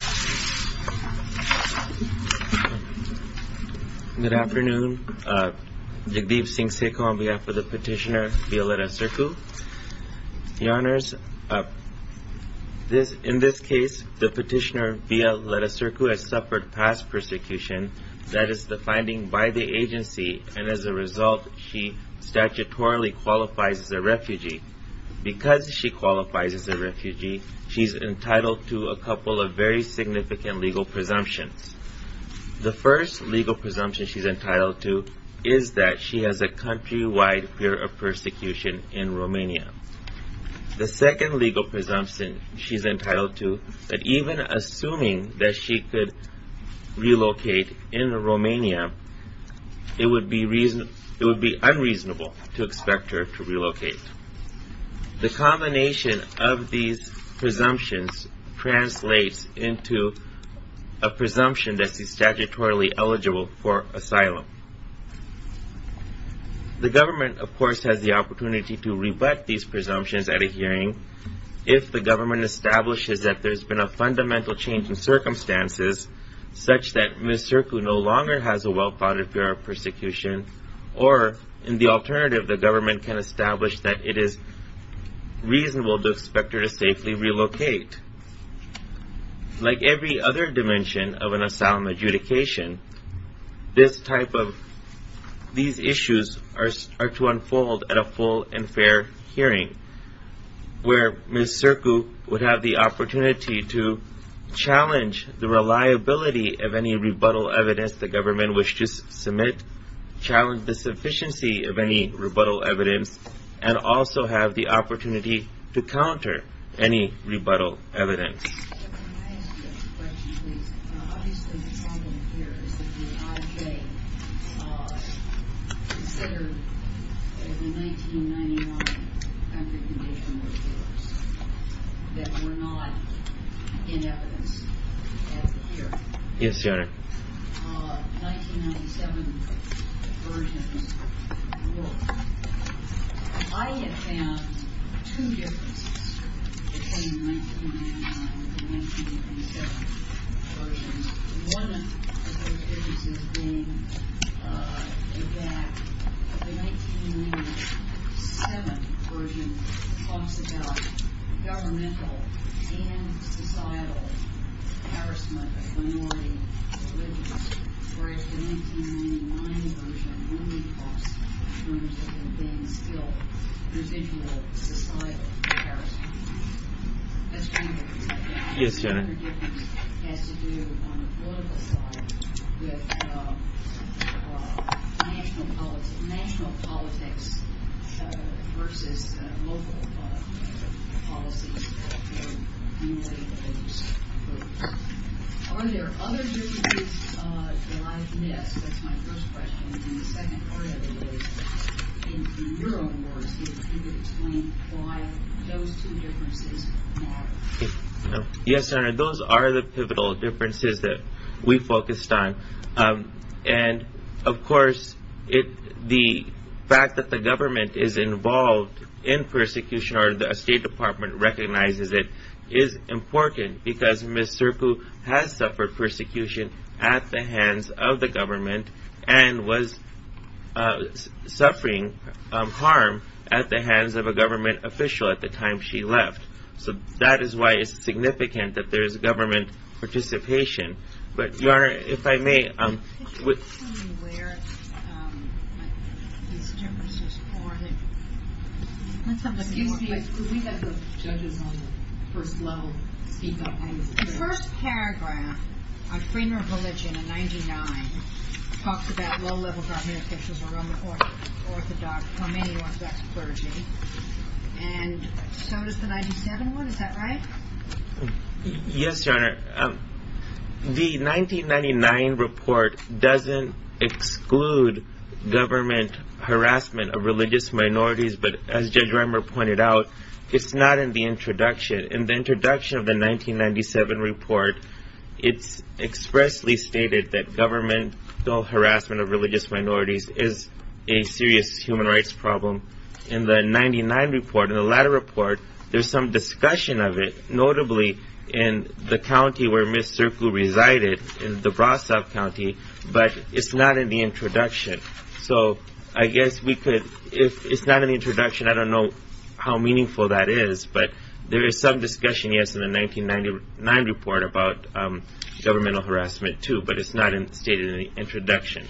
Good afternoon. Jagdeep Singh Seku on behalf of the Petitioner v. Ledacircu. Your Honors, in this case, the Petitioner v. Ledacircu has suffered past persecution, that is the finding by the agency, and as a result, she statutorily qualifies as a refugee. Because she qualifies as a refugee, she is entitled to a couple of very significant legal presumptions. The first legal presumption she is entitled to is that she has a country-wide fear of persecution in Romania. The second legal presumption she is entitled to is that even assuming that she could relocate in Romania, it would be unreasonable to expect her to The combination of these presumptions translates into a presumption that she is statutorily eligible for asylum. The government, of course, has the opportunity to rebut these presumptions at a hearing if the government establishes that there has been a fundamental change in circumstances such that Ms. Seku no longer has a well-founded fear of persecution, or in the alternative, the government can establish that it is reasonable to expect her to safely relocate. Like every other dimension of an asylum adjudication, these issues are to unfold at a full and fair hearing, where Ms. Seku would have the opportunity to challenge the reliability of rebuttal evidence and also have the opportunity to counter any rebuttal evidence. I have found two differences between 1999 and the 1997 version. One of those differences being the fact that the 1997 version talks about governmental and societal harassment of minority religious, whereas the 1999 version only talks in terms of it being still residual societal harassment. That's kind of a difference, isn't it? Yes, Janet. The other difference has to do, on the political side, with national politics versus local policies. Are there other differences like this? That's my first question. And the second part of it is, in your own words, you could explain why those two differences matter. Yes, Senator. Those are the pivotal differences that we focused on. And, of course, the fact that government is involved in persecution, or the State Department recognizes it, is important because Ms. Seku has suffered persecution at the hands of the government and was suffering harm at the hands of a government official at the time she left. So that is why it's significant that there is government participation. The first paragraph on freedom of religion in 1999 talks about low-level government officials who are unorthodox. And so does the 1997 one. Is that right? Yes, Janet. The 1999 report doesn't exclude government harassment of religious minorities, but as Judge Reimer pointed out, it's not in the introduction. In the introduction of the 1997 report, it's expressly stated that governmental harassment of religious minorities is a serious human rights problem. In the 1999 report, in the latter report, there's some discussion of it, notably in the county where Ms. Seku resided, in DeBrasov County, but it's not in the introduction. So I guess we could, if it's not in the introduction, I don't know how meaningful that is, but there is some discussion, yes, in the 1999 report about governmental harassment too, but it's not stated in the introduction.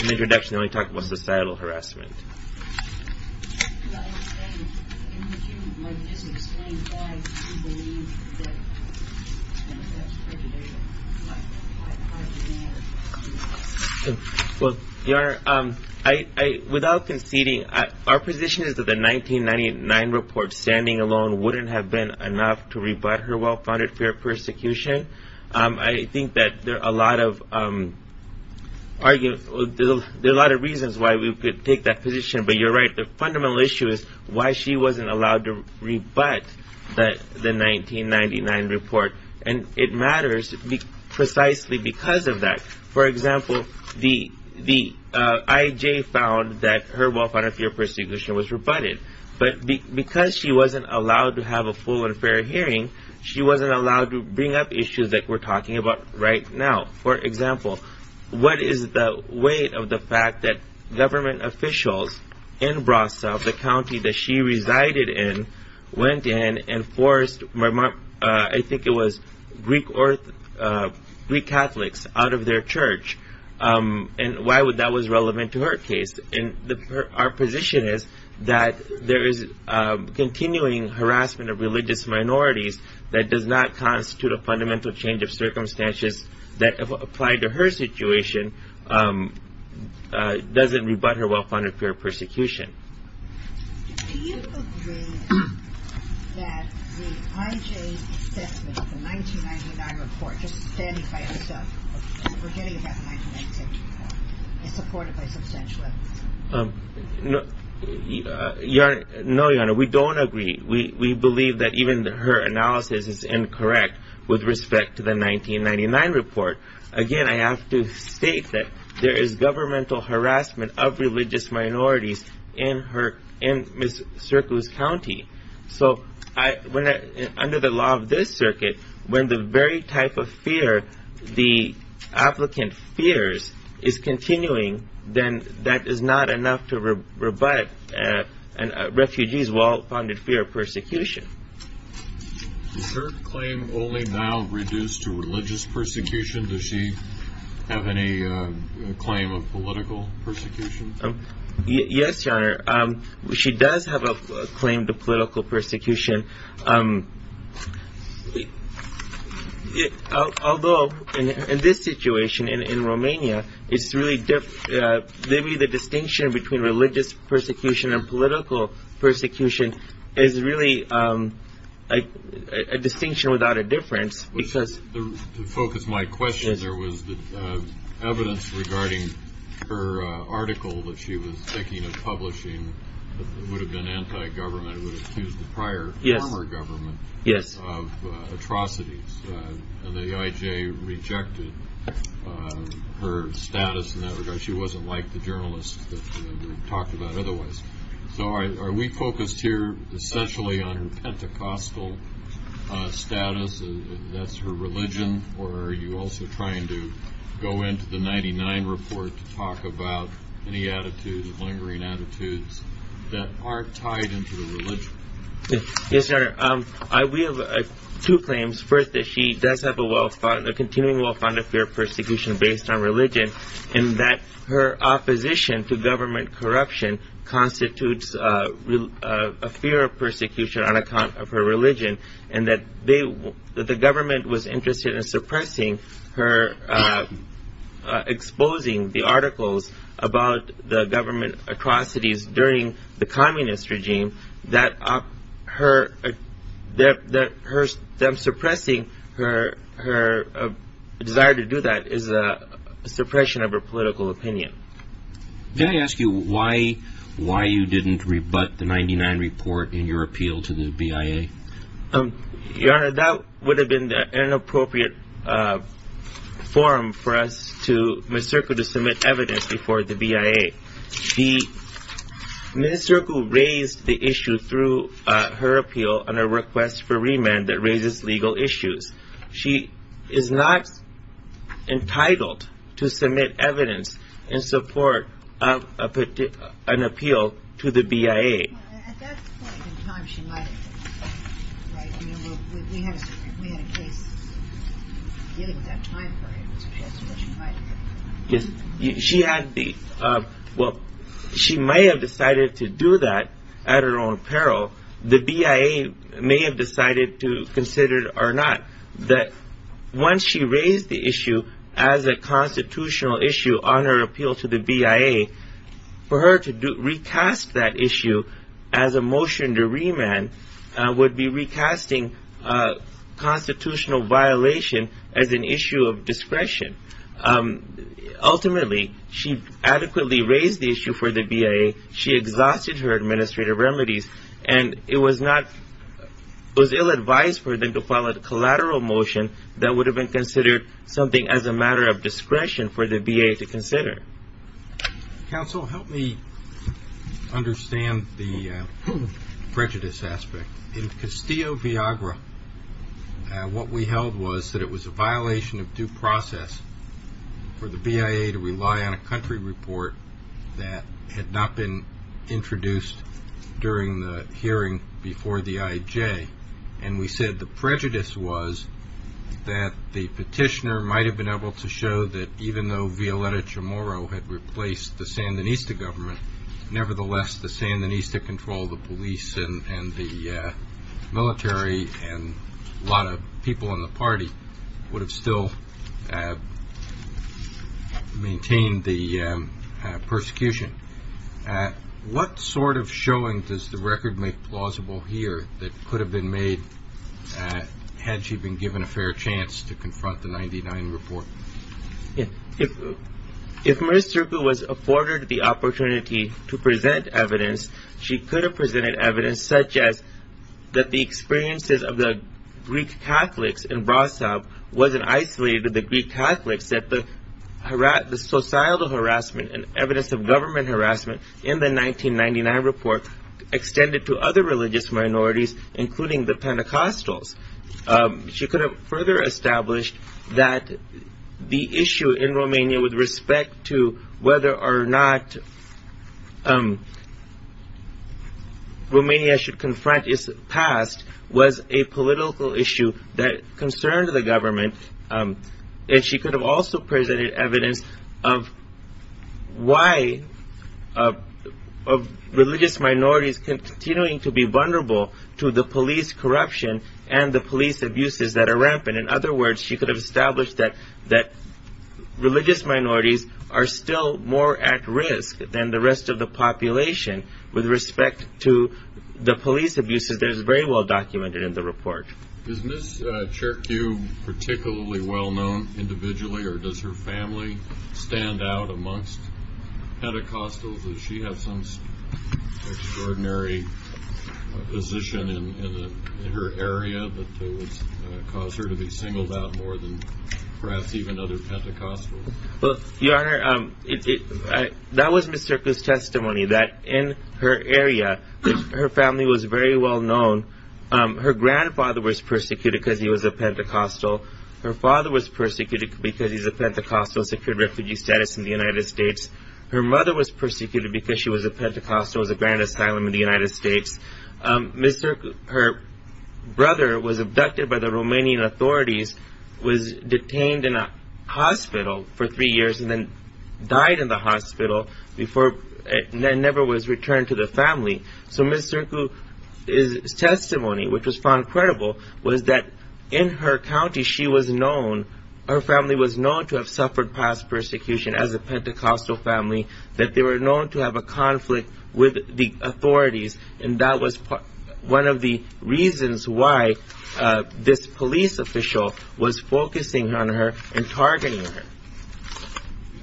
In the introduction, they only talk about societal harassment. Well, Your Honor, without conceding, our position is that the 1999 report standing alone wouldn't have been enough to rebut her well-founded fear of persecution. I think that there are a lot of reasons why we could take that position, but you're right, the fundamental issue is why she wasn't allowed to rebut the 1999 report, and it matters precisely because of that. For example, the IJ found that her well-founded fear of persecution was rebutted, but because she wasn't allowed to have a full and fair hearing, she wasn't allowed to bring up issues that we're talking about right now. For example, what is the weight of the fact that government officials in Brasov, the county that she resided in, went in and forced, I think it was Greek Catholics, out of their church, and why that was relevant to her case? And our position is that there is continuing harassment of religious minorities that does not constitute a fundamental change of circumstances that, if applied to her situation, doesn't rebut her well-founded fear of persecution. Do you agree that the IJ assessment, the 1999 report, just standing by itself, we're hearing about the 1999 report, is supported by substantial evidence? No, Your Honor, we don't agree. We believe that even her analysis is incorrect with respect to the 1999 report. Again, I have to state that there is governmental harassment of religious minorities in Ms. Serkou's county. So, under the law of this circuit, when the very type of fear the applicant fears is continuing, then that is not enough to rebut a refugee's well-founded fear of persecution. Is her claim only now reduced to religious persecution? Does she have any claim of political persecution? Yes, Your Honor, she does have a political persecution. Although, in this situation, in Romania, maybe the distinction between religious persecution and political persecution is really a distinction without a difference. To focus my question, there was evidence regarding her article that she was the prior former government of atrocities. The IJ rejected her status in that regard. She wasn't like the journalists that we talked about otherwise. So, are we focused here essentially on her Pentecostal status, that's her religion, or are you also trying to go into the 1999 report to talk about any attitudes, lingering attitudes, that are tied into the religion? Yes, Your Honor. We have two claims. First, that she does have a continuing well-founded fear of persecution based on religion, and that her opposition to government corruption constitutes a fear of persecution on account of her religion, and that the government was about the government atrocities during the communist regime, that suppressing her desire to do that is a suppression of her political opinion. Can I ask you why you didn't rebut the 1999 report in your appeal to the BIA? Your Honor, that would have been an inappropriate forum for us to, Ms. Zirkle, to submit evidence before the BIA. Ms. Zirkle raised the issue through her appeal on a request for remand that raises legal issues. She is not entitled to submit evidence in support of an appeal to the BIA. At that point in time, she might have decided to do that at her own peril. The BIA may have decided to consider it or not, that once she raised the issue as a constitutional issue on her appeal to the BIA, for her to recast that issue as a motion to remand would be recasting constitutional violation as an issue of discretion. Ultimately, she adequately raised the issue for the BIA. She exhausted her administrative remedies, and it was ill-advised for them to file a collateral motion that would have been considered something as a matter of discretion for the BIA to consider. Counsel, help me understand the prejudice aspect. In Castillo-Viagra, what we held was that it was a violation of due process for the BIA to rely on a country report that had not been introduced during the hearing before the IJ. We said the prejudice was that the petitioner might have been able to show that even though Violeta Chamorro had replaced the Sandinista government, nevertheless, the Sandinista control, the police and the military, and a lot of people in the party would have still maintained the persecution. What sort of showing does the record make plausible here that could have been made had she been given a fair chance to confront the 99 report? Yeah, if, if Maris Turku was afforded the opportunity to present evidence, she could have presented evidence such as that the experiences of the Greek Catholics in Brasov wasn't isolated to the Greek Catholics, that the societal harassment and evidence of government harassment in the 1999 report extended to other religious minorities, including the Pentecostals. She could have further established that the issue in Romania with respect to whether or not Romania should confront its past was a political issue that concerned the government. And she could have also presented evidence of why of religious minorities continuing to be the police abuses that are rampant. In other words, she could have established that religious minorities are still more at risk than the rest of the population with respect to the police abuses that is very well documented in the report. Is Ms. Turku particularly well known individually or does her family stand out amongst Pentecostals? Does she have some extraordinary position in her area that would cause her to be singled out more than perhaps even other Pentecostals? Well, Your Honor, that was Ms. Turku's testimony that in her area, her family was very well known. Her grandfather was persecuted because he was a Pentecostal. Her father was persecuted because he's a Pentecostal secured refugee status in the United States. Her mother was persecuted because she was a Pentecostal, was a grand asylum in the United States. Ms. Turku, her brother was abducted by the Romanian authorities, was detained in a hospital for three years and then died in the hospital before it never was returned to the family. So Ms. Turku's testimony, which was found credible, was that in her county she was known, her family was known to have suffered past persecution as a Pentecostal family, that they were known to have a conflict with the authorities and that was one of the reasons why this police official was focusing on her and targeting her. Can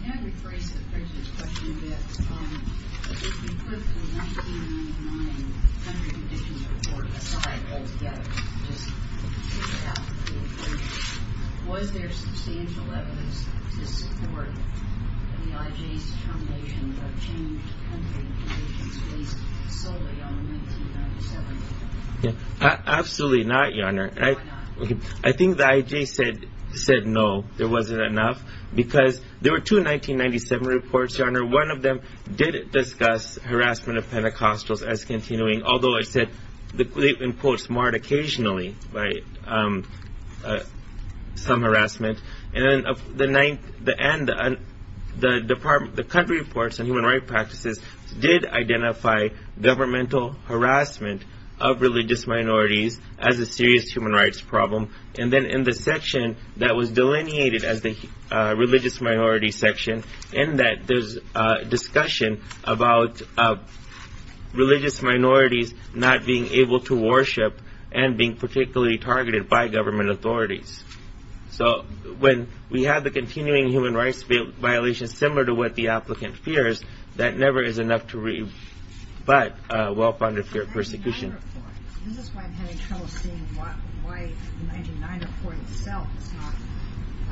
I rephrase the Prince's question a bit? If you put the 1999 country conditions report aside, altogether, was there substantial evidence to support the IJ's determination of changed country conditions based solely on 1997? Absolutely not, Your Honor. I think the IJ said no, there wasn't enough, because there were two 1997 reports, Your Honor. One of them did discuss harassment of Pentecostals as continuing, although it said, they've been, quote, marred occasionally by some harassment. And then of the ninth, the end, the department, the country reports on human rights practices did identify governmental harassment of religious minorities as a serious human rights problem. And then in the section that was delineated as the religious minority section, in that there's a discussion about religious minorities not being able to worship and being particularly targeted by government authorities. So when we have the continuing human rights violations, similar to what the applicant fears, that never is enough to rebut well-founded fear of persecution. This is why I'm having trouble seeing why the 1999 report itself is not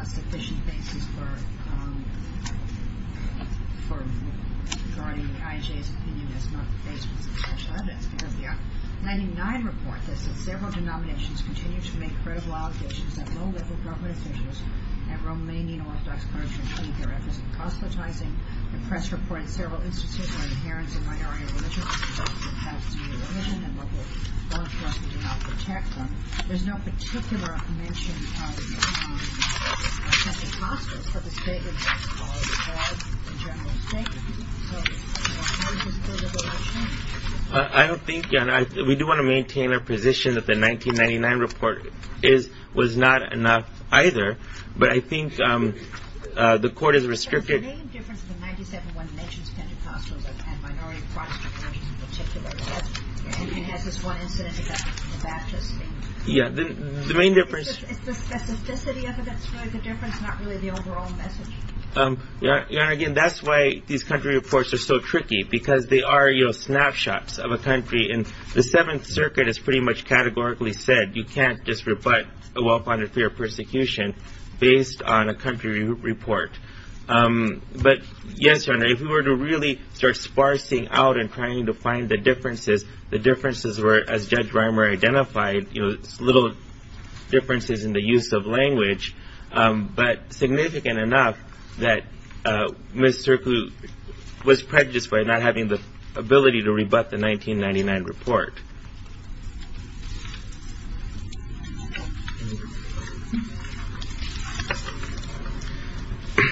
a sufficient basis for regarding the IJ's opinion as not based on substantial evidence, because the 1999 report says that several denominations continue to make credible allegations that low-level government officials at Romanian Orthodox communities continue to be represented as proselytizing. The press reported several instances where adherents of minority religions have committed a religion and local law enforcement did not protect them. There's no particular mention of Pentecostals, but the statement itself calls for a general statement. So, Your Honor, can we just go to the last one? I don't think, Your Honor, we do want to maintain our position that the 1999 report was not enough either, but I think the court has restricted... But the main difference between 1997 when it mentions Pentecostals and minority Protestant communities in particular is that it has this one incident about the Baptist thing. Yeah, the main difference... It's the specificity of it that's really the difference, not really the overall message. Your Honor, again, that's why these country reports are so tricky, because they are, you know, snapshots of a country, and the Seventh Circuit has pretty much categorically said you can't just rebut a well-founded fear of persecution based on a country report. But, yes, Your Honor, if we were to really start sparsing out and trying to find the differences, the differences were, as Judge Reimer identified, you know, little differences in the use of language, but significant enough that Ms. Sirku was prejudiced by not having the ability to rebut the 1999 report.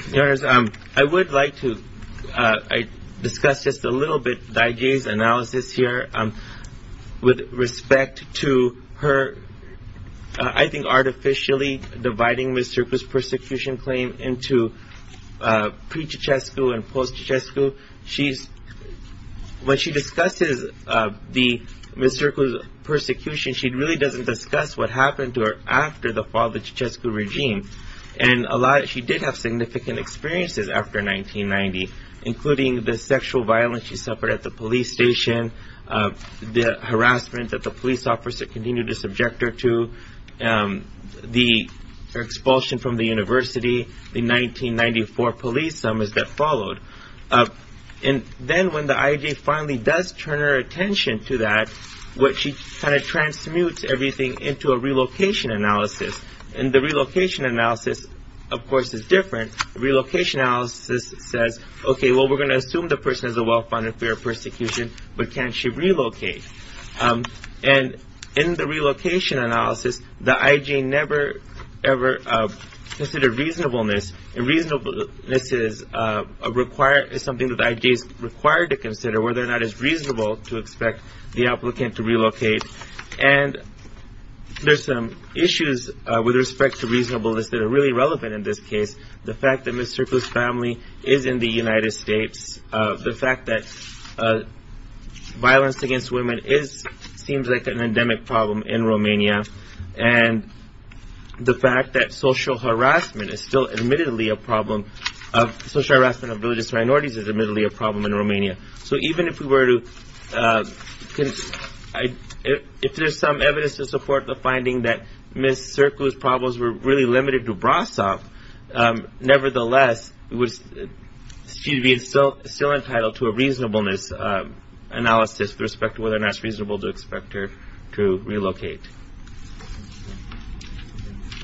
Your Honor, I would like to discuss just a little bit DiJay's analysis here with respect to her, I think, artificially dividing Ms. Sirku's persecution claim into pre-Chichescu and post-Chichescu. When she discusses Ms. Sirku's persecution, she really doesn't discuss what happened to her after the fall of the Chichescu regime, and she did have significant experiences after 1990, including the sexual violence she suffered at the police station, the harassment that the police officer continued to subject her to, the expulsion from the university, the 1994 police summons that followed. And then when the IJA finally does turn her attention to that, she kind of transmutes everything into a relocation analysis, and the relocation analysis, of course, is different. Relocation analysis says, okay, well, we're going to assume the And in the relocation analysis, the IJA never ever considered reasonableness, and reasonableness is something that the IJA is required to consider, whether or not it's reasonable to expect the applicant to relocate. And there's some issues with respect to reasonableness that are really relevant in this case. The fact that Ms. Sirku's family is in the United States, the fact that violence against women seems like an endemic problem in Romania, and the fact that social harassment is still admittedly a problem, social harassment of religious minorities is admittedly a problem in Romania. So even if we were to, if there's some evidence to support the finding that Ms. Sirku's problems were really limited to Brasov, nevertheless, she'd be still entitled to a reasonableness analysis with respect to whether or not it's reasonable to expect her to relocate.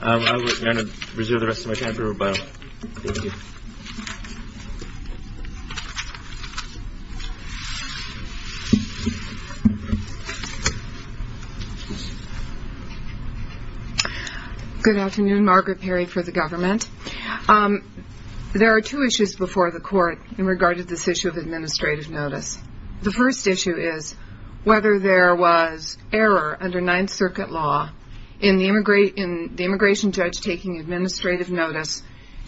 I'm going to reserve the rest of my time for rebuttal. Thank you. Margaret Perry Good afternoon, Margaret Perry for the government. There are two issues before the court in regard to this issue of administrative notice. The first issue is whether there was error under Ninth Circuit law in the immigration judge taking administrative notice,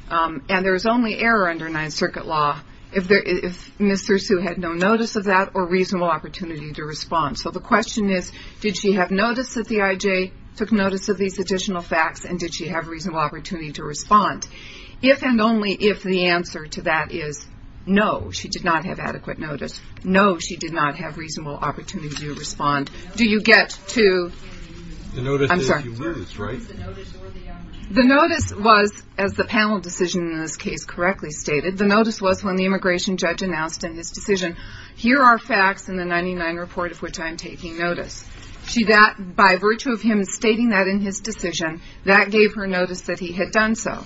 and there's only error under Ninth Circuit law if Ms. Sirku had no notice of that or reasonable opportunity to respond. So the question is, did she have notice at the IJ, took notice of these additional facts, and did she have reasonable opportunity to respond? If and only if the answer to that is no, she did not have adequate notice, no, she did not have reasonable opportunity to respond, do you get to? The notice was, as the panel decision in this case correctly stated, the notice was when the immigration judge announced in his decision, here are facts in the 99 report of which I'm taking notice. She got, by virtue of him stating that in his decision, that gave her notice that he had done so.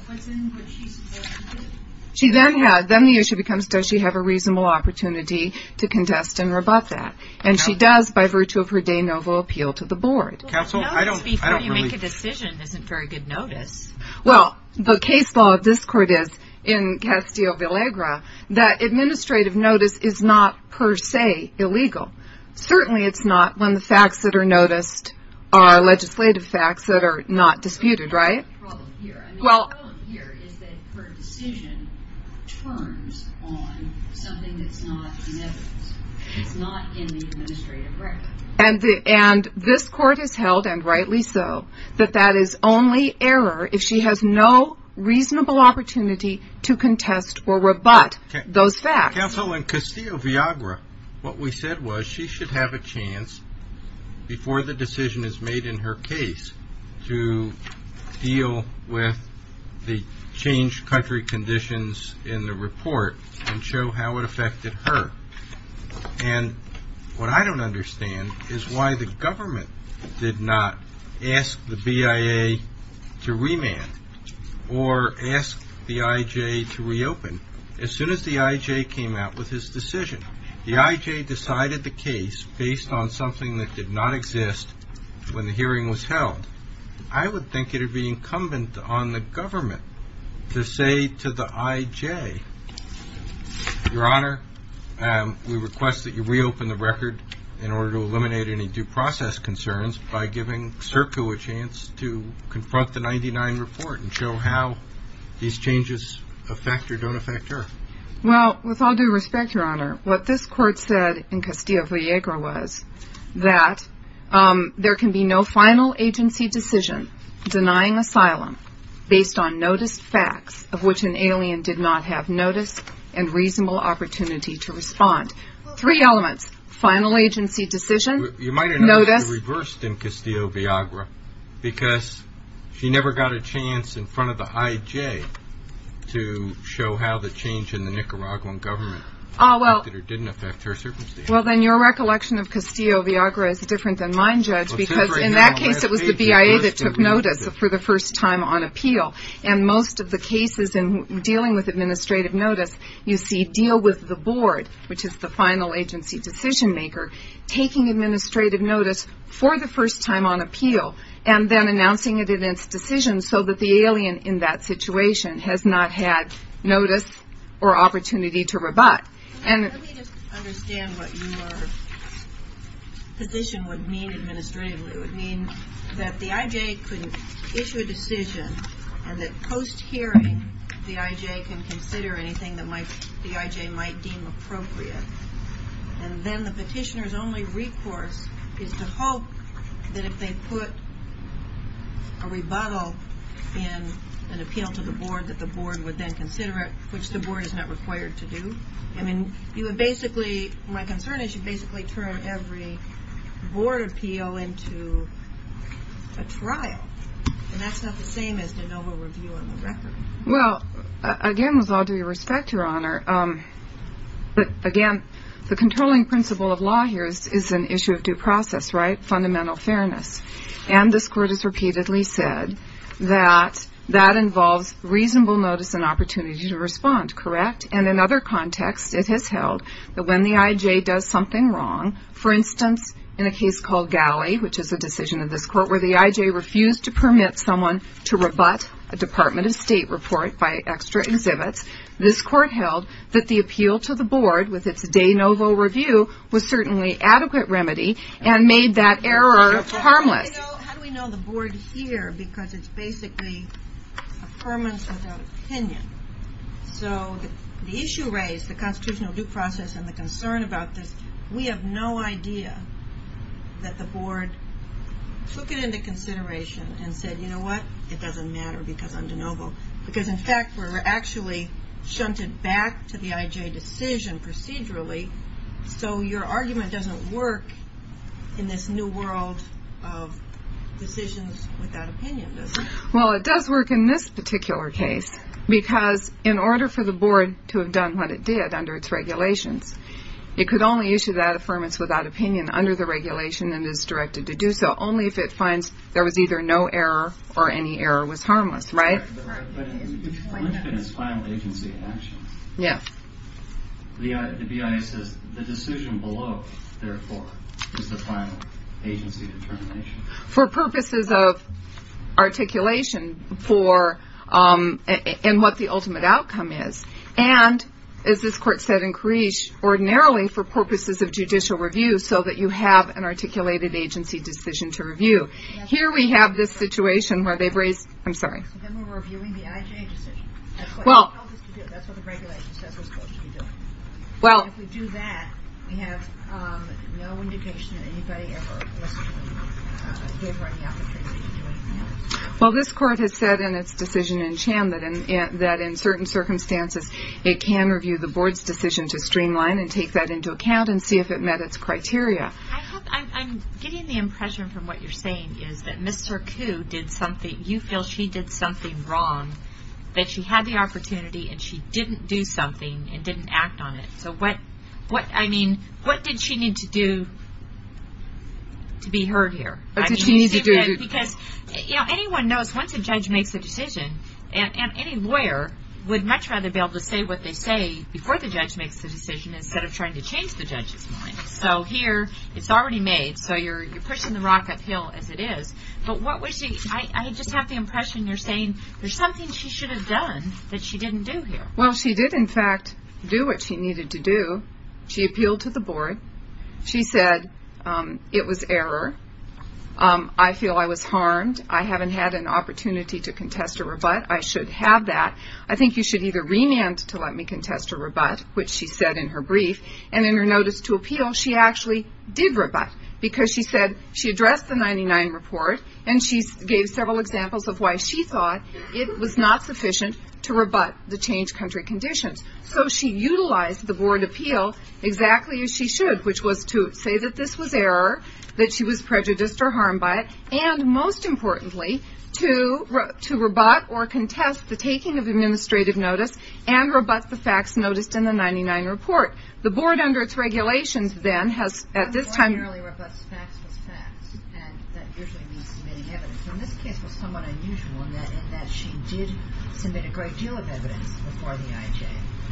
She then had, then the issue becomes, does she have a reasonable opportunity to contest and rebut that? And she does by virtue of her de novo appeal to the board. Well, the notice before you make a decision isn't very good notice. Well, the case law of this court is, in Castillo-Villegra, that administrative notice is not per se illegal. Certainly it's not when the facts that are noticed are legislative facts that are not disputed, right? The problem here is that her decision turns on something that's not in evidence. It's not in the administrative record. And this court has held, and rightly so, that that is only error if she has no reasonable opportunity to contest or rebut those facts. Counsel, in Castillo-Villegra, what we said was she should have a chance before the decision is made in her case to deal with the changed conditions in the report and show how it affected her. And what I don't understand is why the government did not ask the BIA to remand or ask the IJ to reopen as soon as the IJ came out with his decision. The IJ decided the case based on something that did not exist when the hearing was held. I would think it would be incumbent on the government to say to the IJ, Your Honor, we request that you reopen the record in order to eliminate any due process concerns by giving Circo a chance to confront the 99 report and show how these changes affect or don't affect her. Well, with all due respect, Your Honor, what this court said in Castillo-Villegra was that there can be no final agency decision denying asylum based on noticed facts of which an alien did not have notice and reasonable opportunity to respond. Three elements, final agency decision, notice. You might have reversed in Castillo-Villegra because she never got a chance in front of the IJ to show how the change in the Nicaraguan government affected or didn't affect her. In that case, it was the BIA that took notice for the first time on appeal. And most of the cases dealing with administrative notice, you see deal with the board, which is the final agency decision maker, taking administrative notice for the first time on appeal and then announcing it in its decision so that the alien in that situation has not had notice or opportunity to rebut. Let me just understand what your position would mean administratively. It would mean that the IJ couldn't issue a decision and that post-hearing the IJ can consider anything that the IJ might deem appropriate. And then the petitioner's only recourse is to hope that if they put a rebuttal in an appeal to the board that the board would then consider it, which the board is not required to do. I mean, you would basically, my concern is you basically turn every board appeal into a trial. And that's not the same as de novo review on the record. Well, again, with all due respect, Your Honor, but again, the controlling principle of law here is an issue of due process, right? Fundamental fairness. And this court has repeatedly said that that involves reasonable notice and opportunity to respond, correct? And in other contexts it has held that when the IJ does something wrong, for instance, in a case called Galley, which is a decision of this court where the IJ refused to permit someone to rebut a Department of State report by extra exhibits, this court held that the appeal to the board with its de novo review was certainly adequate remedy and made that error harmless. How do we know the board here? Because it's basically affirmance without opinion. So the issue raised, the constitutional due process and the concern about this, we have no idea that the board took it into consideration and said, you know what? It doesn't matter because I'm de novo. Because in fact, we're actually shunted back to the IJ procedurally. So your argument doesn't work in this new world of decisions without opinion, does it? Well, it does work in this particular case because in order for the board to have done what it did under its regulations, it could only issue that affirmance without opinion under the regulation and is directed to do so only if it finds there was either no error or any error was there. The BIA says the decision below, therefore, is the final agency determination. For purposes of articulation for and what the ultimate outcome is. And as this court said in Creech, ordinarily for purposes of judicial review so that you have an articulated agency decision to review. Here we have this situation where they've raised, I'm sorry. Then we're reviewing the IJ decision. That's what the regulation says we're supposed to be doing. If we do that, we have no indication that anybody ever was given the opportunity to do anything else. Well, this court has said in its decision in Cham that in certain circumstances, it can review the board's decision to streamline and take that into account and see if it met its criteria. I'm getting the impression from what you're saying is that Mr. Koo did something, you feel she did something wrong, that she had the opportunity and she didn't do something and didn't act on it. So what, I mean, what did she need to do to be heard here? That's what she needed to do. Because, you know, anyone knows once a judge makes a decision, and any lawyer would much rather be able to say what they say before the judge makes the decision instead of trying to change the judge's mind. So here it's already made. So you're pushing the rock uphill as it is. But what was the, I just have the impression you're saying there's something she should have done that she didn't do here. Well, she did in fact do what she needed to do. She appealed to the board. She said it was error. I feel I was harmed. I haven't had an opportunity to contest a rebut. I should have that. I think you should either remand to let me contest a rebut, which she said in her brief, and in her notice to appeal, she actually did rebut because she said she addressed the 99 report, and she gave several examples of why she thought it was not sufficient to rebut the change country conditions. So she utilized the board appeal exactly as she should, which was to say that this was error, that she was prejudiced or harmed by it, and most importantly to rebut or contest the taking of administrative notice and rebut the facts noticed in the 99 report. The board under its regulations, then, has at this time... The fact was facts, and that usually means submitting evidence. In this case, it was somewhat unusual in that she did submit a great deal of evidence before the IJ,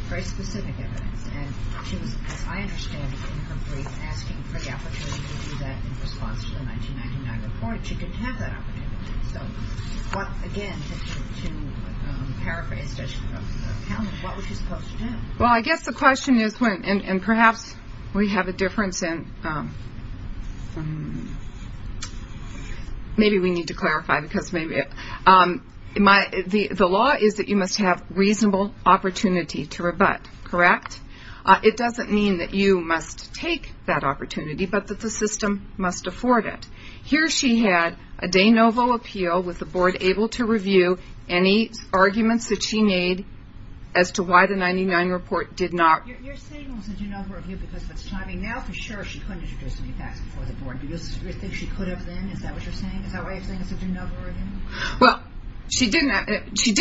very specific evidence, and she was, as I understand it in her brief, asking for the opportunity to do that in response to the 1999 report. She didn't have that opportunity. So what, again, to paraphrase Judge Kalman, what was she supposed to do? Well, I guess the question is, and perhaps we have a difference in... Maybe we need to clarify because maybe... The law is that you must have reasonable opportunity to rebut, correct? It doesn't mean that you must take that opportunity, but that the system must afford it. Here she had a de novo appeal with the board able to review any arguments that she made as to why the 99 report did not... You're saying it was a de novo review because of its timing. Now, for sure, she couldn't introduce any facts before the board. Do you think she could have then? Is that what you're saying? Is that why you're saying it's a de novo review? Well, she did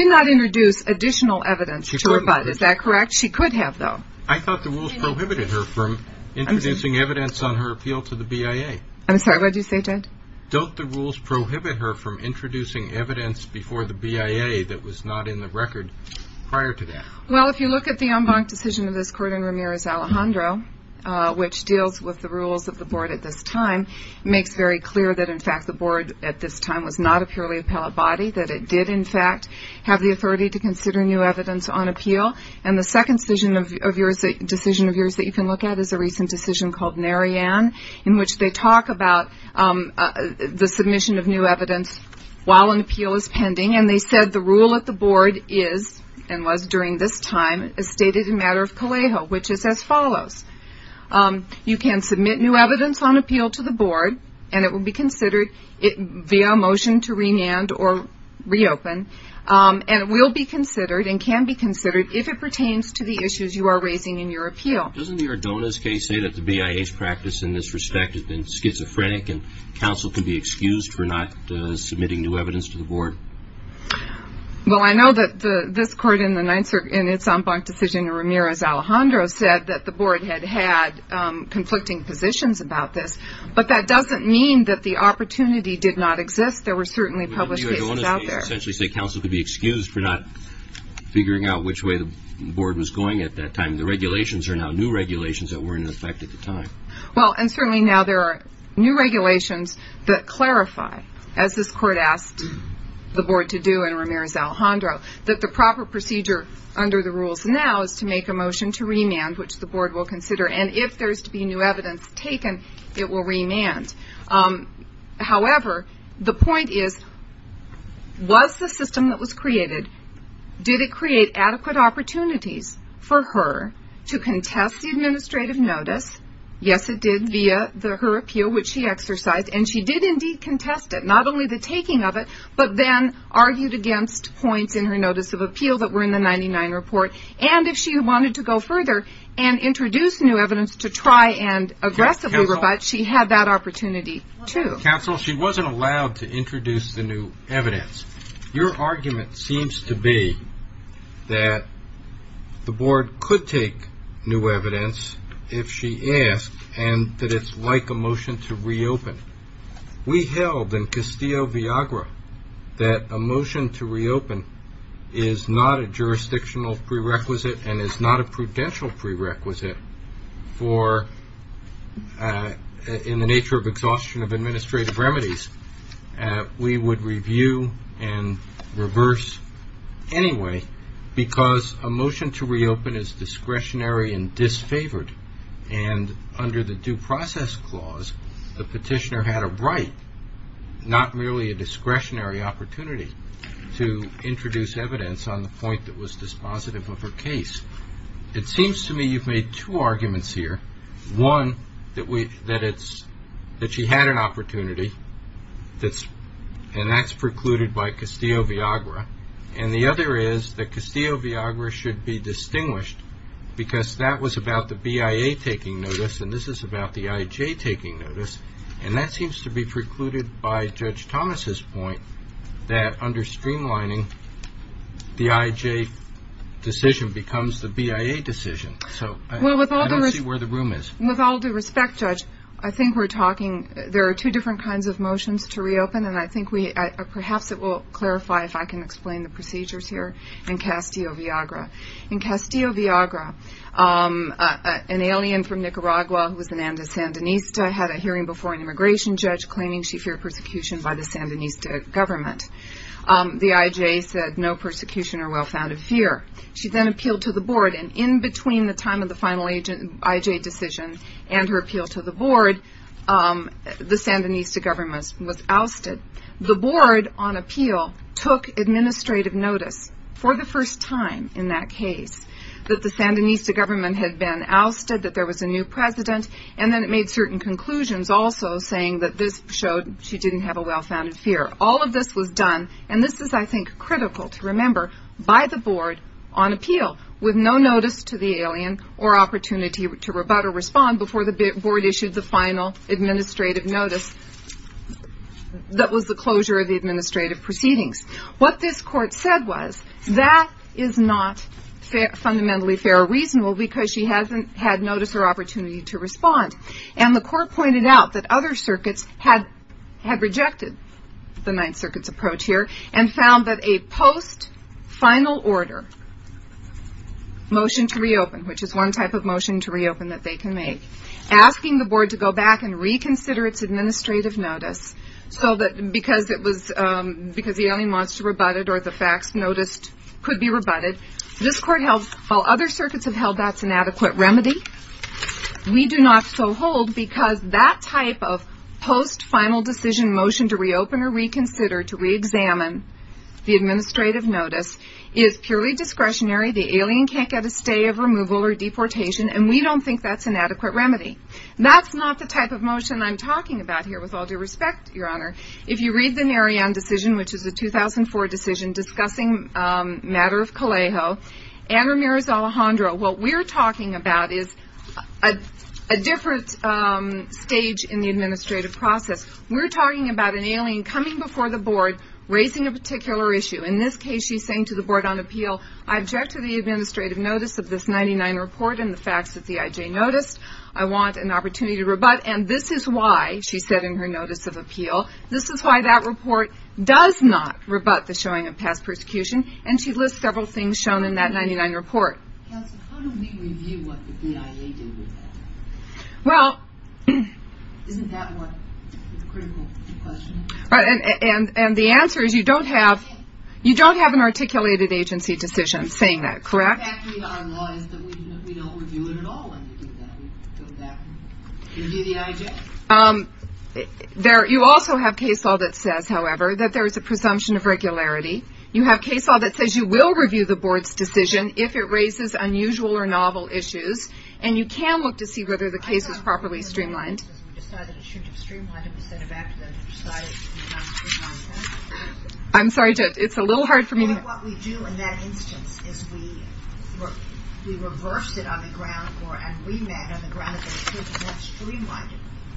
not introduce additional evidence to rebut. Is that correct? She could have, though. I thought the rules prohibited her from introducing evidence on her appeal to the BIA. I'm sorry, what did you say, Ted? Don't the rules prohibit her from introducing evidence before the BIA that was not in the record prior to that? Well, if you look at the en banc decision of this court in Ramirez Alejandro, which deals with the rules of the board at this time, makes very clear that, in fact, the board at this time was not a purely appellate body, that it did, in fact, have the authority to consider new evidence on appeal. And the second decision of yours that you can look at is a recent decision called Narayan, in which they talk about the submission of new evidence while an appeal is pending, and they said the rule at the board is, and was during this time, is stated in matter of Calejo, which is as follows. You can submit new evidence on appeal to the board, and it will be considered via a motion to remand or reopen, and it will be considered and can be considered if it pertains to the issues you are raising in your appeal. Doesn't the Ordonez case say that the BIA's practice in this respect has been schizophrenic and counsel can be excused for not submitting new evidence to the board? Well, I know that this court in its en banc decision in Ramirez Alejandro said that the board had had conflicting positions about this, but that doesn't mean that the opportunity did not exist. There were certainly published cases out there. Doesn't the Ordonez case essentially say counsel could be excused for not figuring out which way the board was going at that time? The regulations are now new regulations that were in effect at the time. Well, and certainly now there are new regulations that clarify, as this court asked the board to do in Ramirez Alejandro, that the proper procedure under the rules now is to make a motion to remand, which the board will consider, and if there is to be new evidence taken, it will remand. However, the point is, was the system that was created, did it create adequate opportunities for her to contest the administrative notice? Yes, it did via her appeal, which she exercised, and she did indeed contest it, not only the taking of it, but then argued against points in her notice of appeal that were in the 99 report, and if she wanted to go further and introduce new opportunity, too. Counsel, she wasn't allowed to introduce the new evidence. Your argument seems to be that the board could take new evidence if she asked, and that it's like a motion to reopen. We held in Castillo Viagra that a motion to reopen is not a jurisdictional prerequisite and is not a prudential prerequisite for, in the nature of exhaustion of administrative remedies, we would review and reverse anyway, because a motion to reopen is discretionary and disfavored, and under the due process clause, the petitioner had a right, not merely a discretionary opportunity, to introduce two arguments here. One, that she had an opportunity, and that's precluded by Castillo Viagra, and the other is that Castillo Viagra should be distinguished, because that was about the BIA taking notice, and this is about the IJ taking notice, and that seems to be precluded by the BIA. I don't see where the room is. With all due respect, Judge, I think we're talking, there are two different kinds of motions to reopen, and I think we, perhaps it will clarify if I can explain the procedures here in Castillo Viagra. In Castillo Viagra, an alien from Nicaragua, who was an Andes Sandinista, had a hearing before an immigration judge, claiming she feared persecution by the Sandinista government. The IJ said no persecution or well-founded fear. She then appealed to the IJ decision, and her appeal to the board, the Sandinista government was ousted. The board, on appeal, took administrative notice, for the first time in that case, that the Sandinista government had been ousted, that there was a new president, and then it made certain conclusions, also saying that this showed she didn't have a well-founded fear. All of this was done, and this is, I think, critical to remember, by the board, on appeal, with no notice to the alien, or opportunity to rebut or respond, before the board issued the final administrative notice, that was the closure of the administrative proceedings. What this court said was, that is not fundamentally fair or reasonable, because she hasn't had notice or opportunity to respond. And the court pointed out that other circuits had rejected the Ninth motion to reopen, which is one type of motion to reopen that they can make, asking the board to go back and reconsider its administrative notice, so that, because it was, because the alien wants to rebut it, or the facts noticed could be rebutted, this court held, while other circuits have held that's an adequate remedy, we do not so hold, because that type of post-final decision motion to reopen or reconsider, to re-examine the administrative notice, is purely discretionary, the alien can't get a stay of removal or deportation, and we don't think that's an adequate remedy. That's not the type of motion I'm talking about here, with all due respect, Your Honor. If you read the Narayan decision, which is a 2004 decision, discussing matter of Callejo, and Ramirez Alejandro, what we're talking about is a different stage in the board, raising a particular issue. In this case, she's saying to the board on appeal, I object to the administrative notice of this 99 report and the facts that the IJ noticed, I want an opportunity to rebut, and this is why, she said in her notice of appeal, this is why that report does not rebut the showing of past persecution, and she lists several things shown in that 99 report. Counsel, how do we review what the BIA did with that? Isn't that what the critical question is? And the answer is, you don't have an articulated agency decision saying that, correct? In fact, our law is that we don't review it at all when we do that, we go back and review the IJ. You also have case law that says, however, that there is a presumption of regularity, you have case law that says you will review the board's decision if it raises unusual or novel issues, and you can look to see whether the case is properly streamlined. I'm sorry, it's a little hard for me to... What we do in that instance is we reverse it on the ground and remand on the ground.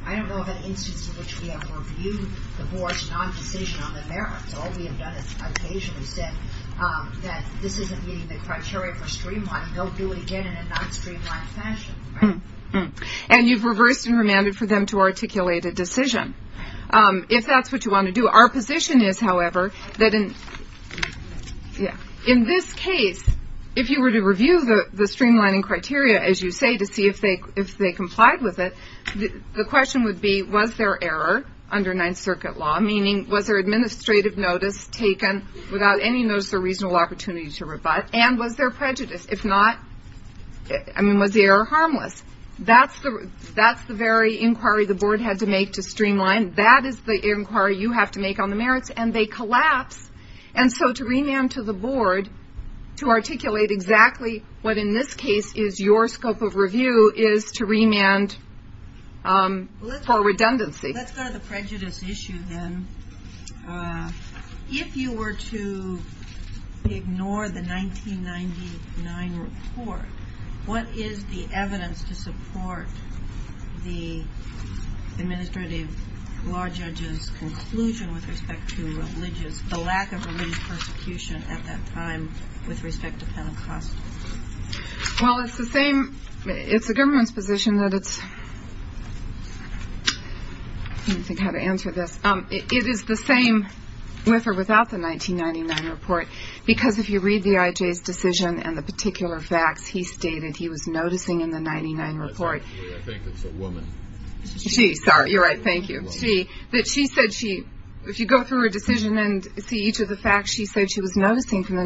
I don't know of an instance in which we have reviewed the board's non-decision on the merits, all we have done is occasionally said that this isn't meeting the criteria for streamlining, don't do it again in a non-streamlined fashion. And you've reversed and remanded for them to articulate a decision. If that's what you want to do, our position is, however, that in this case, if you were to review the streamlining criteria, as you say, to see if they complied with it, the question would be, was there error under Ninth Circuit law, meaning was there administrative notice taken without any notice or reasonable opportunity to rebut, and was there prejudice? If not, was the error harmless? That's the very inquiry the board had to make to streamline, that is the inquiry you have to make on the merits, and they collapse, and so to remand to the board to articulate exactly what in this is your scope of review is to remand for redundancy. Let's go to the prejudice issue then. If you were to ignore the 1999 report, what is the evidence to support the administrative law judge's conclusion with respect to the lack of religious persecution at that time with respect to Pentecostal? Well, it's the same, it's the government's position that it's, I don't think how to answer this, it is the same with or without the 1999 report, because if you read the IJ's decision and the particular facts he stated he was noticing in the 99 report. I think it's a woman. She, sorry, you're right, thank you. She, that she said she, if you go through her decision and see each of the facts she said she was noticing from the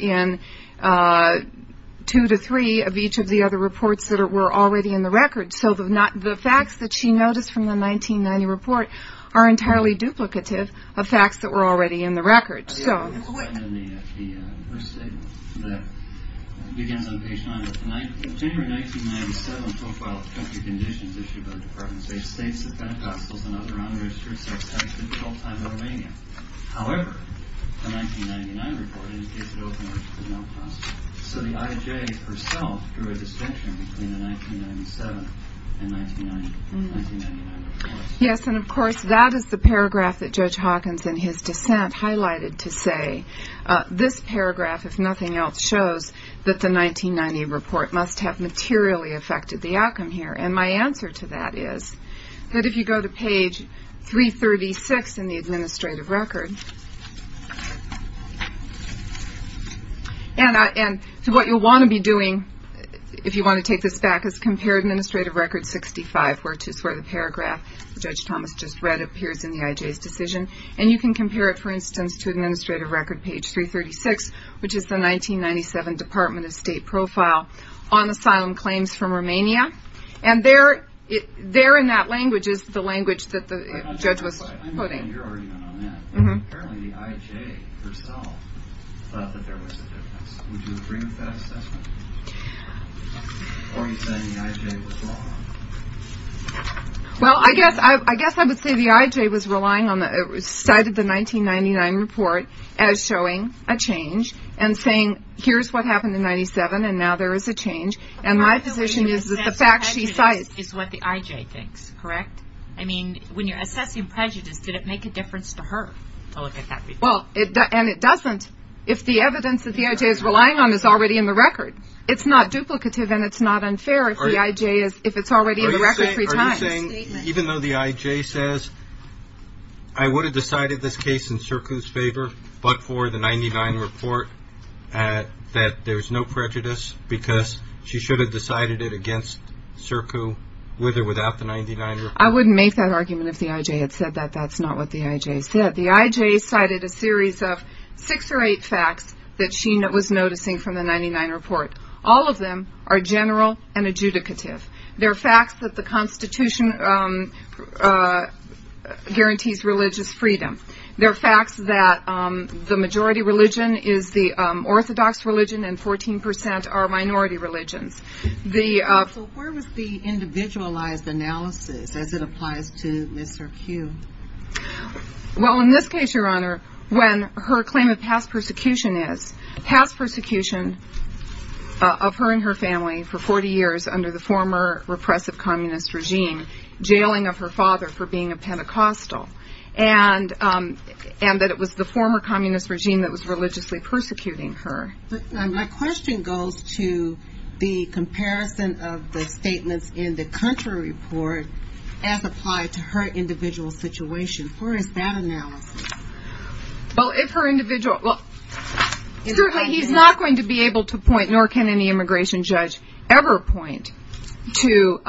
in two to three of each of the other reports that were already in the record, so the facts that she noticed from the 1990 report are entirely duplicative of facts that were already in the record, so. In the first statement that begins on page nine, the January 1997 profile of country conditions issued by the Department of State states that Pentecostals and other unregistered sects had been in Romania the whole time. However, the 1999 report indicates that open worship is not possible. So the IJ herself drew a distinction between the 1997 and 1999 reports. Yes, and of course that is the paragraph that Judge Hawkins in his dissent highlighted to say this paragraph, if nothing else, shows that the 1990 report must have materially affected the outcome here. And my answer to that is that if you go to page 336 in the administrative record and I, and so what you'll want to be doing if you want to take this back is compare administrative record 65, which is where the paragraph Judge Thomas just read appears in the IJ's decision, and you can compare it, for instance, to administrative record page 336, which is the 1997 Department of State profile on asylum claims from Romania. And there, there in that language is the language that the judge was quoting. I know you're already on that, but apparently the IJ herself thought that there was a difference. Would you agree with that assessment? Or are you saying the IJ was wrong? Well, I guess, I guess I would say the IJ was relying on, cited the 1999 report as showing a change and saying here's what happened in 97 and now there is a change. And my position is that the fact she cited is what the IJ thinks, correct? I mean, when you're assessing prejudice, did it make a difference to her? Well, and it doesn't. If the evidence that the IJ is relying on is already in the record, it's not duplicative and it's not unfair if the IJ is, if it's already in the record three times. Are you saying, even though the IJ says, I would have decided this case in CIRCU's favor, but for the 99 report that there's no prejudice because she should have decided it against CIRCU with or without the 99 report? I wouldn't make that argument if the IJ had said that. That's not what the IJ said. The IJ cited a series of six or eight facts that she was noticing from the 99 report. All of them are facts that the Constitution guarantees religious freedom. They're facts that the majority religion is the orthodox religion and 14% are minority religions. So where was the individualized analysis as it applies to Ms. CIRCU? Well, in this case, Your Honor, when her claim of past of communist regime, jailing of her father for being a Pentecostal, and that it was the former communist regime that was religiously persecuting her. My question goes to the comparison of the statements in the country report as applied to her individual situation. Where is that analysis? Well, if her individual, certainly he's not going to be able to point, nor can any immigration judge ever point to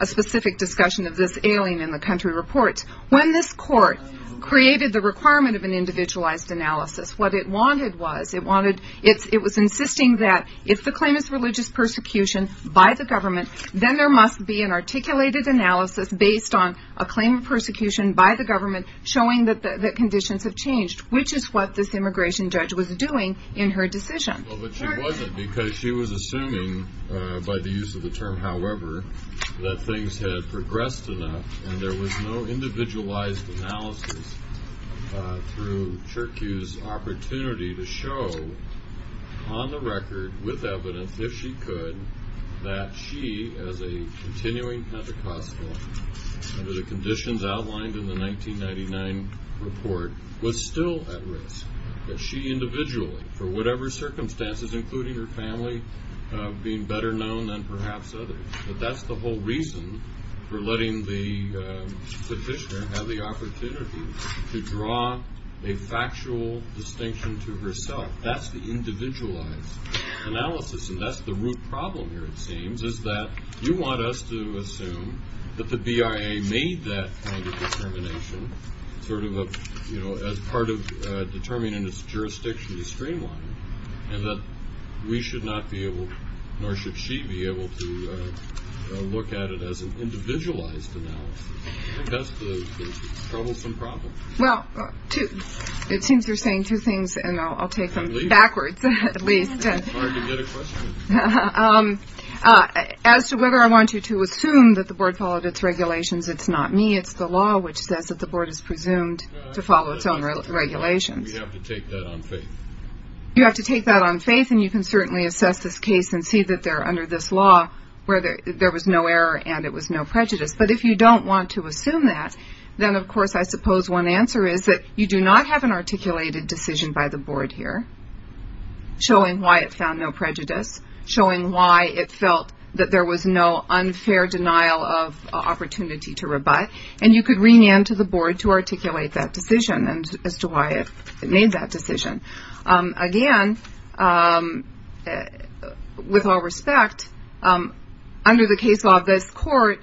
a specific discussion of this ailing in the country report. When this court created the requirement of an individualized analysis, what it wanted was, it wanted, it was insisting that if the claim is religious persecution by the government, then there must be an articulated analysis based on a claim of persecution by the government showing that the conditions have changed, which is what this immigration judge was doing in her decision. But she wasn't because she was assuming by the use of the term, however, that things had progressed enough and there was no individualized analysis through CIRCU's opportunity to show on the record with evidence, if she could, that she as a continuing Pentecostal under the conditions outlined in the 1999 report was still at risk, that she individually for whatever circumstances, including her family, being better known than perhaps others. But that's the whole reason for letting the petitioner have the opportunity to draw a factual distinction to herself. That's the individualized analysis. And that's the root problem here, it seems, is that you want us to assume that the BIA made that kind of determination sort of, you know, as part of determining its jurisdiction to streamline and that we should not be able, nor should she be able to look at it as an individualized analysis. I think that's the troublesome problem. Well, it seems you're saying two things and I'll take them backwards at least. As to whether I want you to assume that the board followed its regulations, it's not me, it's the law which says that the board is presumed to follow its own regulations. We have to take that on faith. You have to take that on faith and you can certainly assess this case and see that they're under this law where there was no error and it was no prejudice. But if you don't want to assume that, then of course I suppose one answer is that you do not have an articulated decision by the board here showing why it found no prejudice, showing why it felt that there was no unfair denial of opportunity to rebut and you could remand to the board to articulate that decision as to why it made that decision. Again, with all respect, under the case law of this court,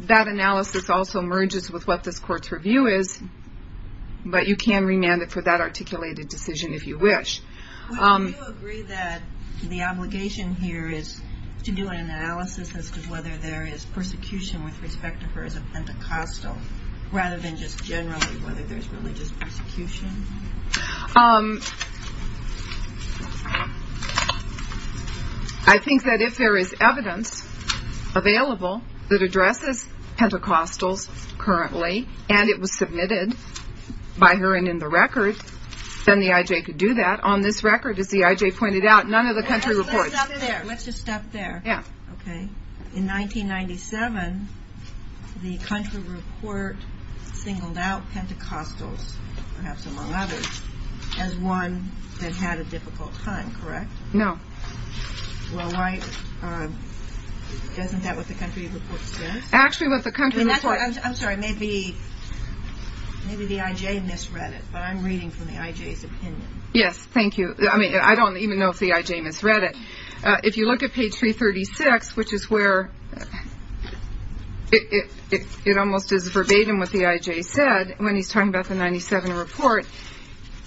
that analysis also merges with what this court's review is, but you can remand it for that articulated decision if you wish. Well, do you agree that the obligation here is to do an analysis as to whether there is persecution with respect to her as a Pentecostal rather than just generally whether there's religious persecution? I think that if there is evidence available that addresses Pentecostals currently and it was submitted by her and in the record, then the IJ could do that. On this record, as the IJ reported in 2007, the country report singled out Pentecostals, perhaps among others, as one that had a difficult time, correct? No. Well, why, doesn't that what the country report says? Actually, what the country report I'm sorry, maybe the IJ misread it, but I'm reading from the IJ's opinion. Yes, thank you. I mean, I don't even know if the IJ misread it. If you look at page 336, which is where it almost is verbatim what the IJ said when he's talking about the 1997 report,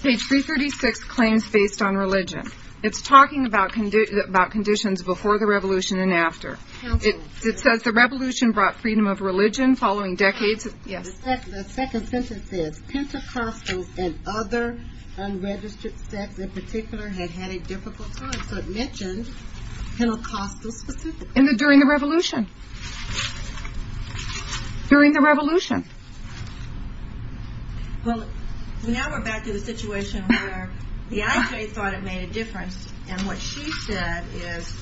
page 336 claims based on religion. It's talking about conditions before the revolution and after. It says the revolution brought freedom of religion following decades. Yes. The second sentence says Pentecostals and other unregistered sects in particular had had a difficult time. So it mentioned Pentecostals specifically. During the revolution. During the revolution. Well, now we're back to the situation where the IJ thought it made a difference and what she said is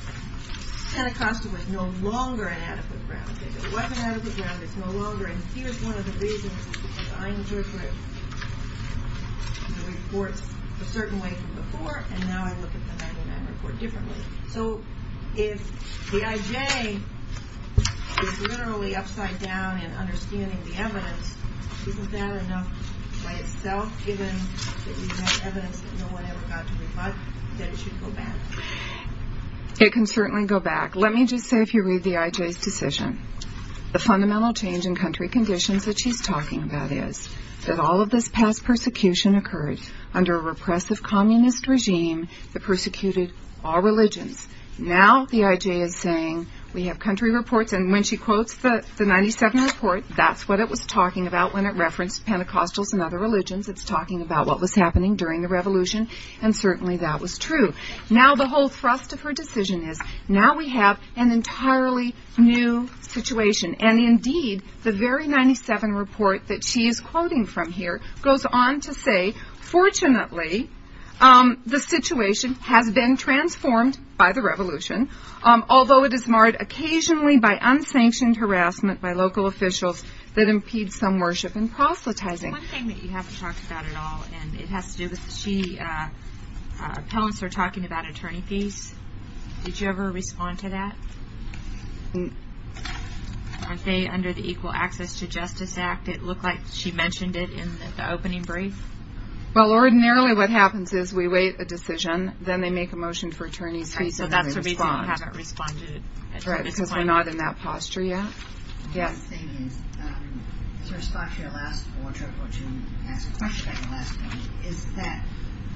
Pentecostal was no longer an adequate ground. It wasn't one of the reasons that I interpret the reports a certain way from before and now I look at the 1999 report differently. So if the IJ is literally upside down in understanding the evidence, isn't that enough by itself given that we have evidence that no one ever got to reflect that it should go back? It can certainly go back. Let me just say if you read the IJ's decision, the fundamental change in country conditions that she's talking about is that all of this past persecution occurred under a repressive communist regime that persecuted all religions. Now the IJ is saying we have country reports and when she quotes the 97 report, that's what it was talking about when it referenced Pentecostals and other religions. It's talking about what was happening during the revolution and certainly that was true. Now the whole thrust of her decision is now we have an entirely new situation and indeed the very 97 report that she is quoting from here goes on to say fortunately the situation has been transformed by the revolution, although it is marred occasionally by unsanctioned harassment by local officials that impedes some worship and proselytizing. One thing that you haven't talked about at all and it has to do with, she, appellants are talking about attorney fees. Did you ever respond to that? Under the Equal Access to Justice Act, it looked like she mentioned it in the opening brief. Well ordinarily what happens is we wait a decision, then they make a motion for attorney fees and then we respond. So that's the reason you haven't responded at this point. Right, because we're not in that posture yet. The thing is, to respond to your last point or to ask a question on your last point, is that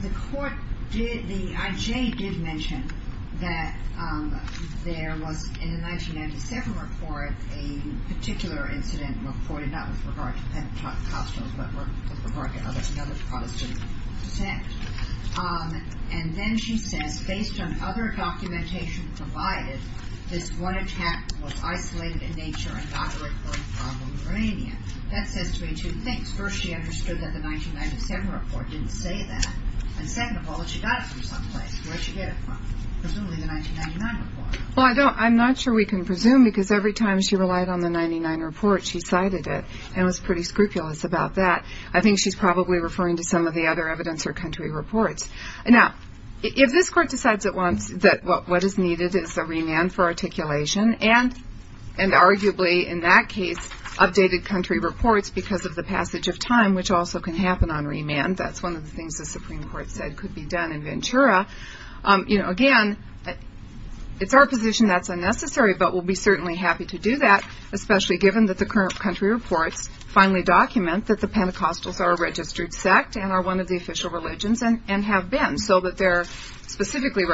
the court did, the IJ did mention that there was in the 1997 report a particular incident reported not with regard to Pentecostals but with regard to other Protestant sects. And then she says based on other documentation provided, this one attack was isolated in nature and not a recurring problem in Romania. That says to me two things. First, she understood that the 1997 report didn't say that. And second of all, she got it from someplace. Where'd she get it from? Presumably the 1999 report. Well I don't, I'm not sure we can presume because every time she relied on the 99 report, she cited it and was pretty scrupulous about that. I think she's probably referring to some of the other evidence or country reports. Now, if this court decides at once that what is needed is a remand for articulation, and arguably in that case, updated country reports because of the passage of time, which also can happen on remand. That's one of the things the Supreme Court said could be done in Ventura. You know, again, it's our position that's unnecessary, but we'll be certainly happy to do that, especially given that the current country reports finally document that the Pentecostals are a registered sect and are one of the official religions and have been, so that they're specifically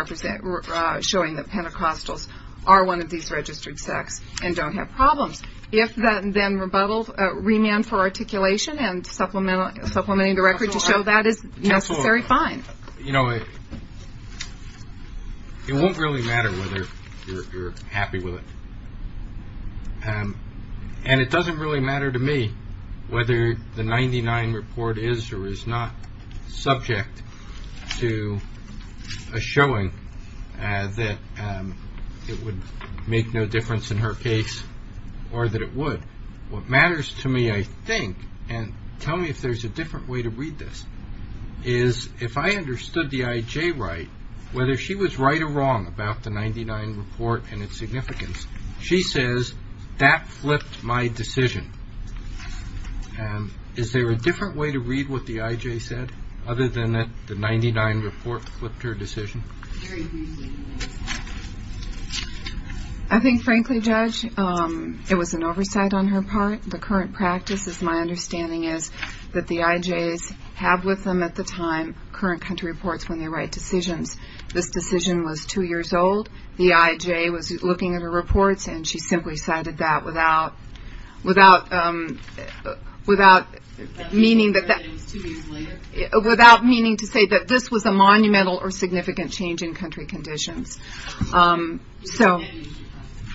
showing that Pentecostals are one of these registered sects and don't have problems. If that, then rebuttal, remand for articulation and supplementing the record to show that is necessary, fine. You know, it won't really matter whether you're happy with it. And it doesn't really matter to me whether the 99 report is or is not subject to a showing that it would make no difference in her case, or that it would. What matters to me, I think, and tell me if there's a different way to read this, is if I understood the IJ right, whether she was right or wrong about the 99 report and its significance, she says, that flipped my decision. Is there a different way to read what the IJ said, other than that the 99 report flipped her decision? I think, frankly, Judge, it was an oversight on her part. The current practice, as my understanding is, that the IJs have with them at the time current country reports when they write decisions. This decision was two years old. The IJ was looking at her reports, and she simply cited that without, meaning that this was a monumental or significant change in country conditions. So,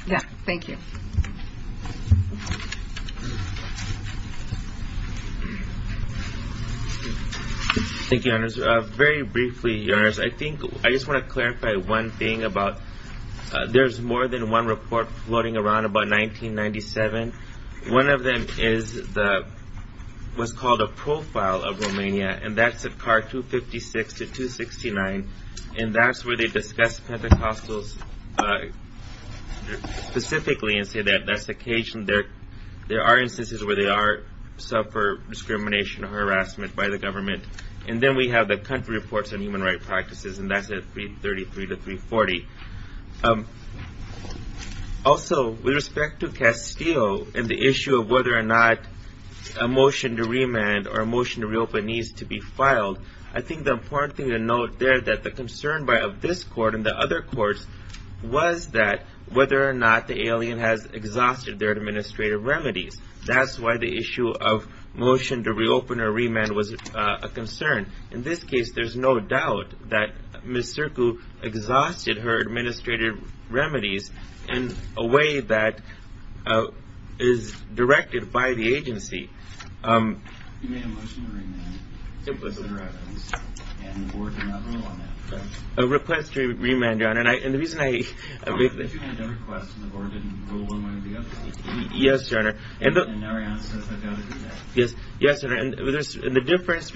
yeah, thank you. Thank you, Your Honors. Very briefly, Your Honors, I think I just want to clarify one thing about there's more than one report floating around about 1997. One of them is what's called a profile of Romania, and that's a card 256 to 269. And that's where they discuss Pentecostals specifically and say that there are instances where they suffer discrimination or harassment by the government. And then we have the country reports on human rights practices, and that's at 333 to 340. Also, with respect to Castillo and the issue of whether or not a motion to remand or a motion to reopen needs to be filed, I think the important thing to note there that the concern of this court and the other courts was that whether or not the alien has exhausted their administrative remedies. That's why the issue of motion to reopen or remand was a concern. In this case, there's no doubt that Ms. Circu exhausted her administrative remedies in a way that is directed by the agency. You made a motion to remand, Senator Evans, and the board did not rule on that. A request to remand, Your Honor, and the reason I... But you made a request and the board didn't rule one way or the other. Yes, Your Honor. And now Arianna says, I doubt it is that. Yes, Your Honor, and the difference,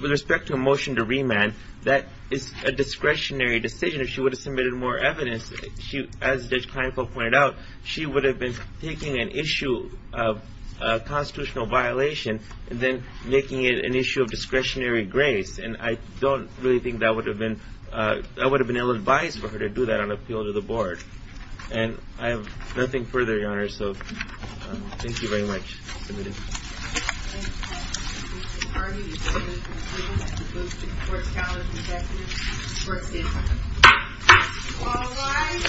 with respect to a motion to remand, that is a discretionary decision. If she would have submitted more evidence, as Judge Kleinfeld pointed out, she would have been taking an issue of constitutional violation and then making it an issue of discretionary grace. And I don't really think that would have been ill-advised for her to do that on appeal to the board. And I have nothing further, Your Honor, so thank you very much. I submit a motion to remand. I move that Ms. Hardy be removed from the pleas at the Booth Supreme Court's College of Justice for a stand-by vote. All rise.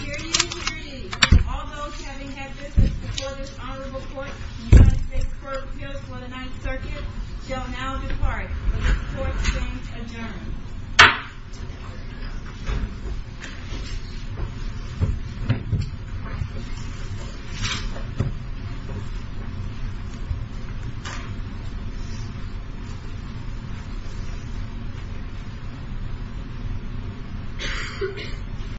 Hear ye, hear ye. All those having had business before this honorable court in the United States Court of Appeals for the Ninth Circuit shall now depart. The court is adjourned.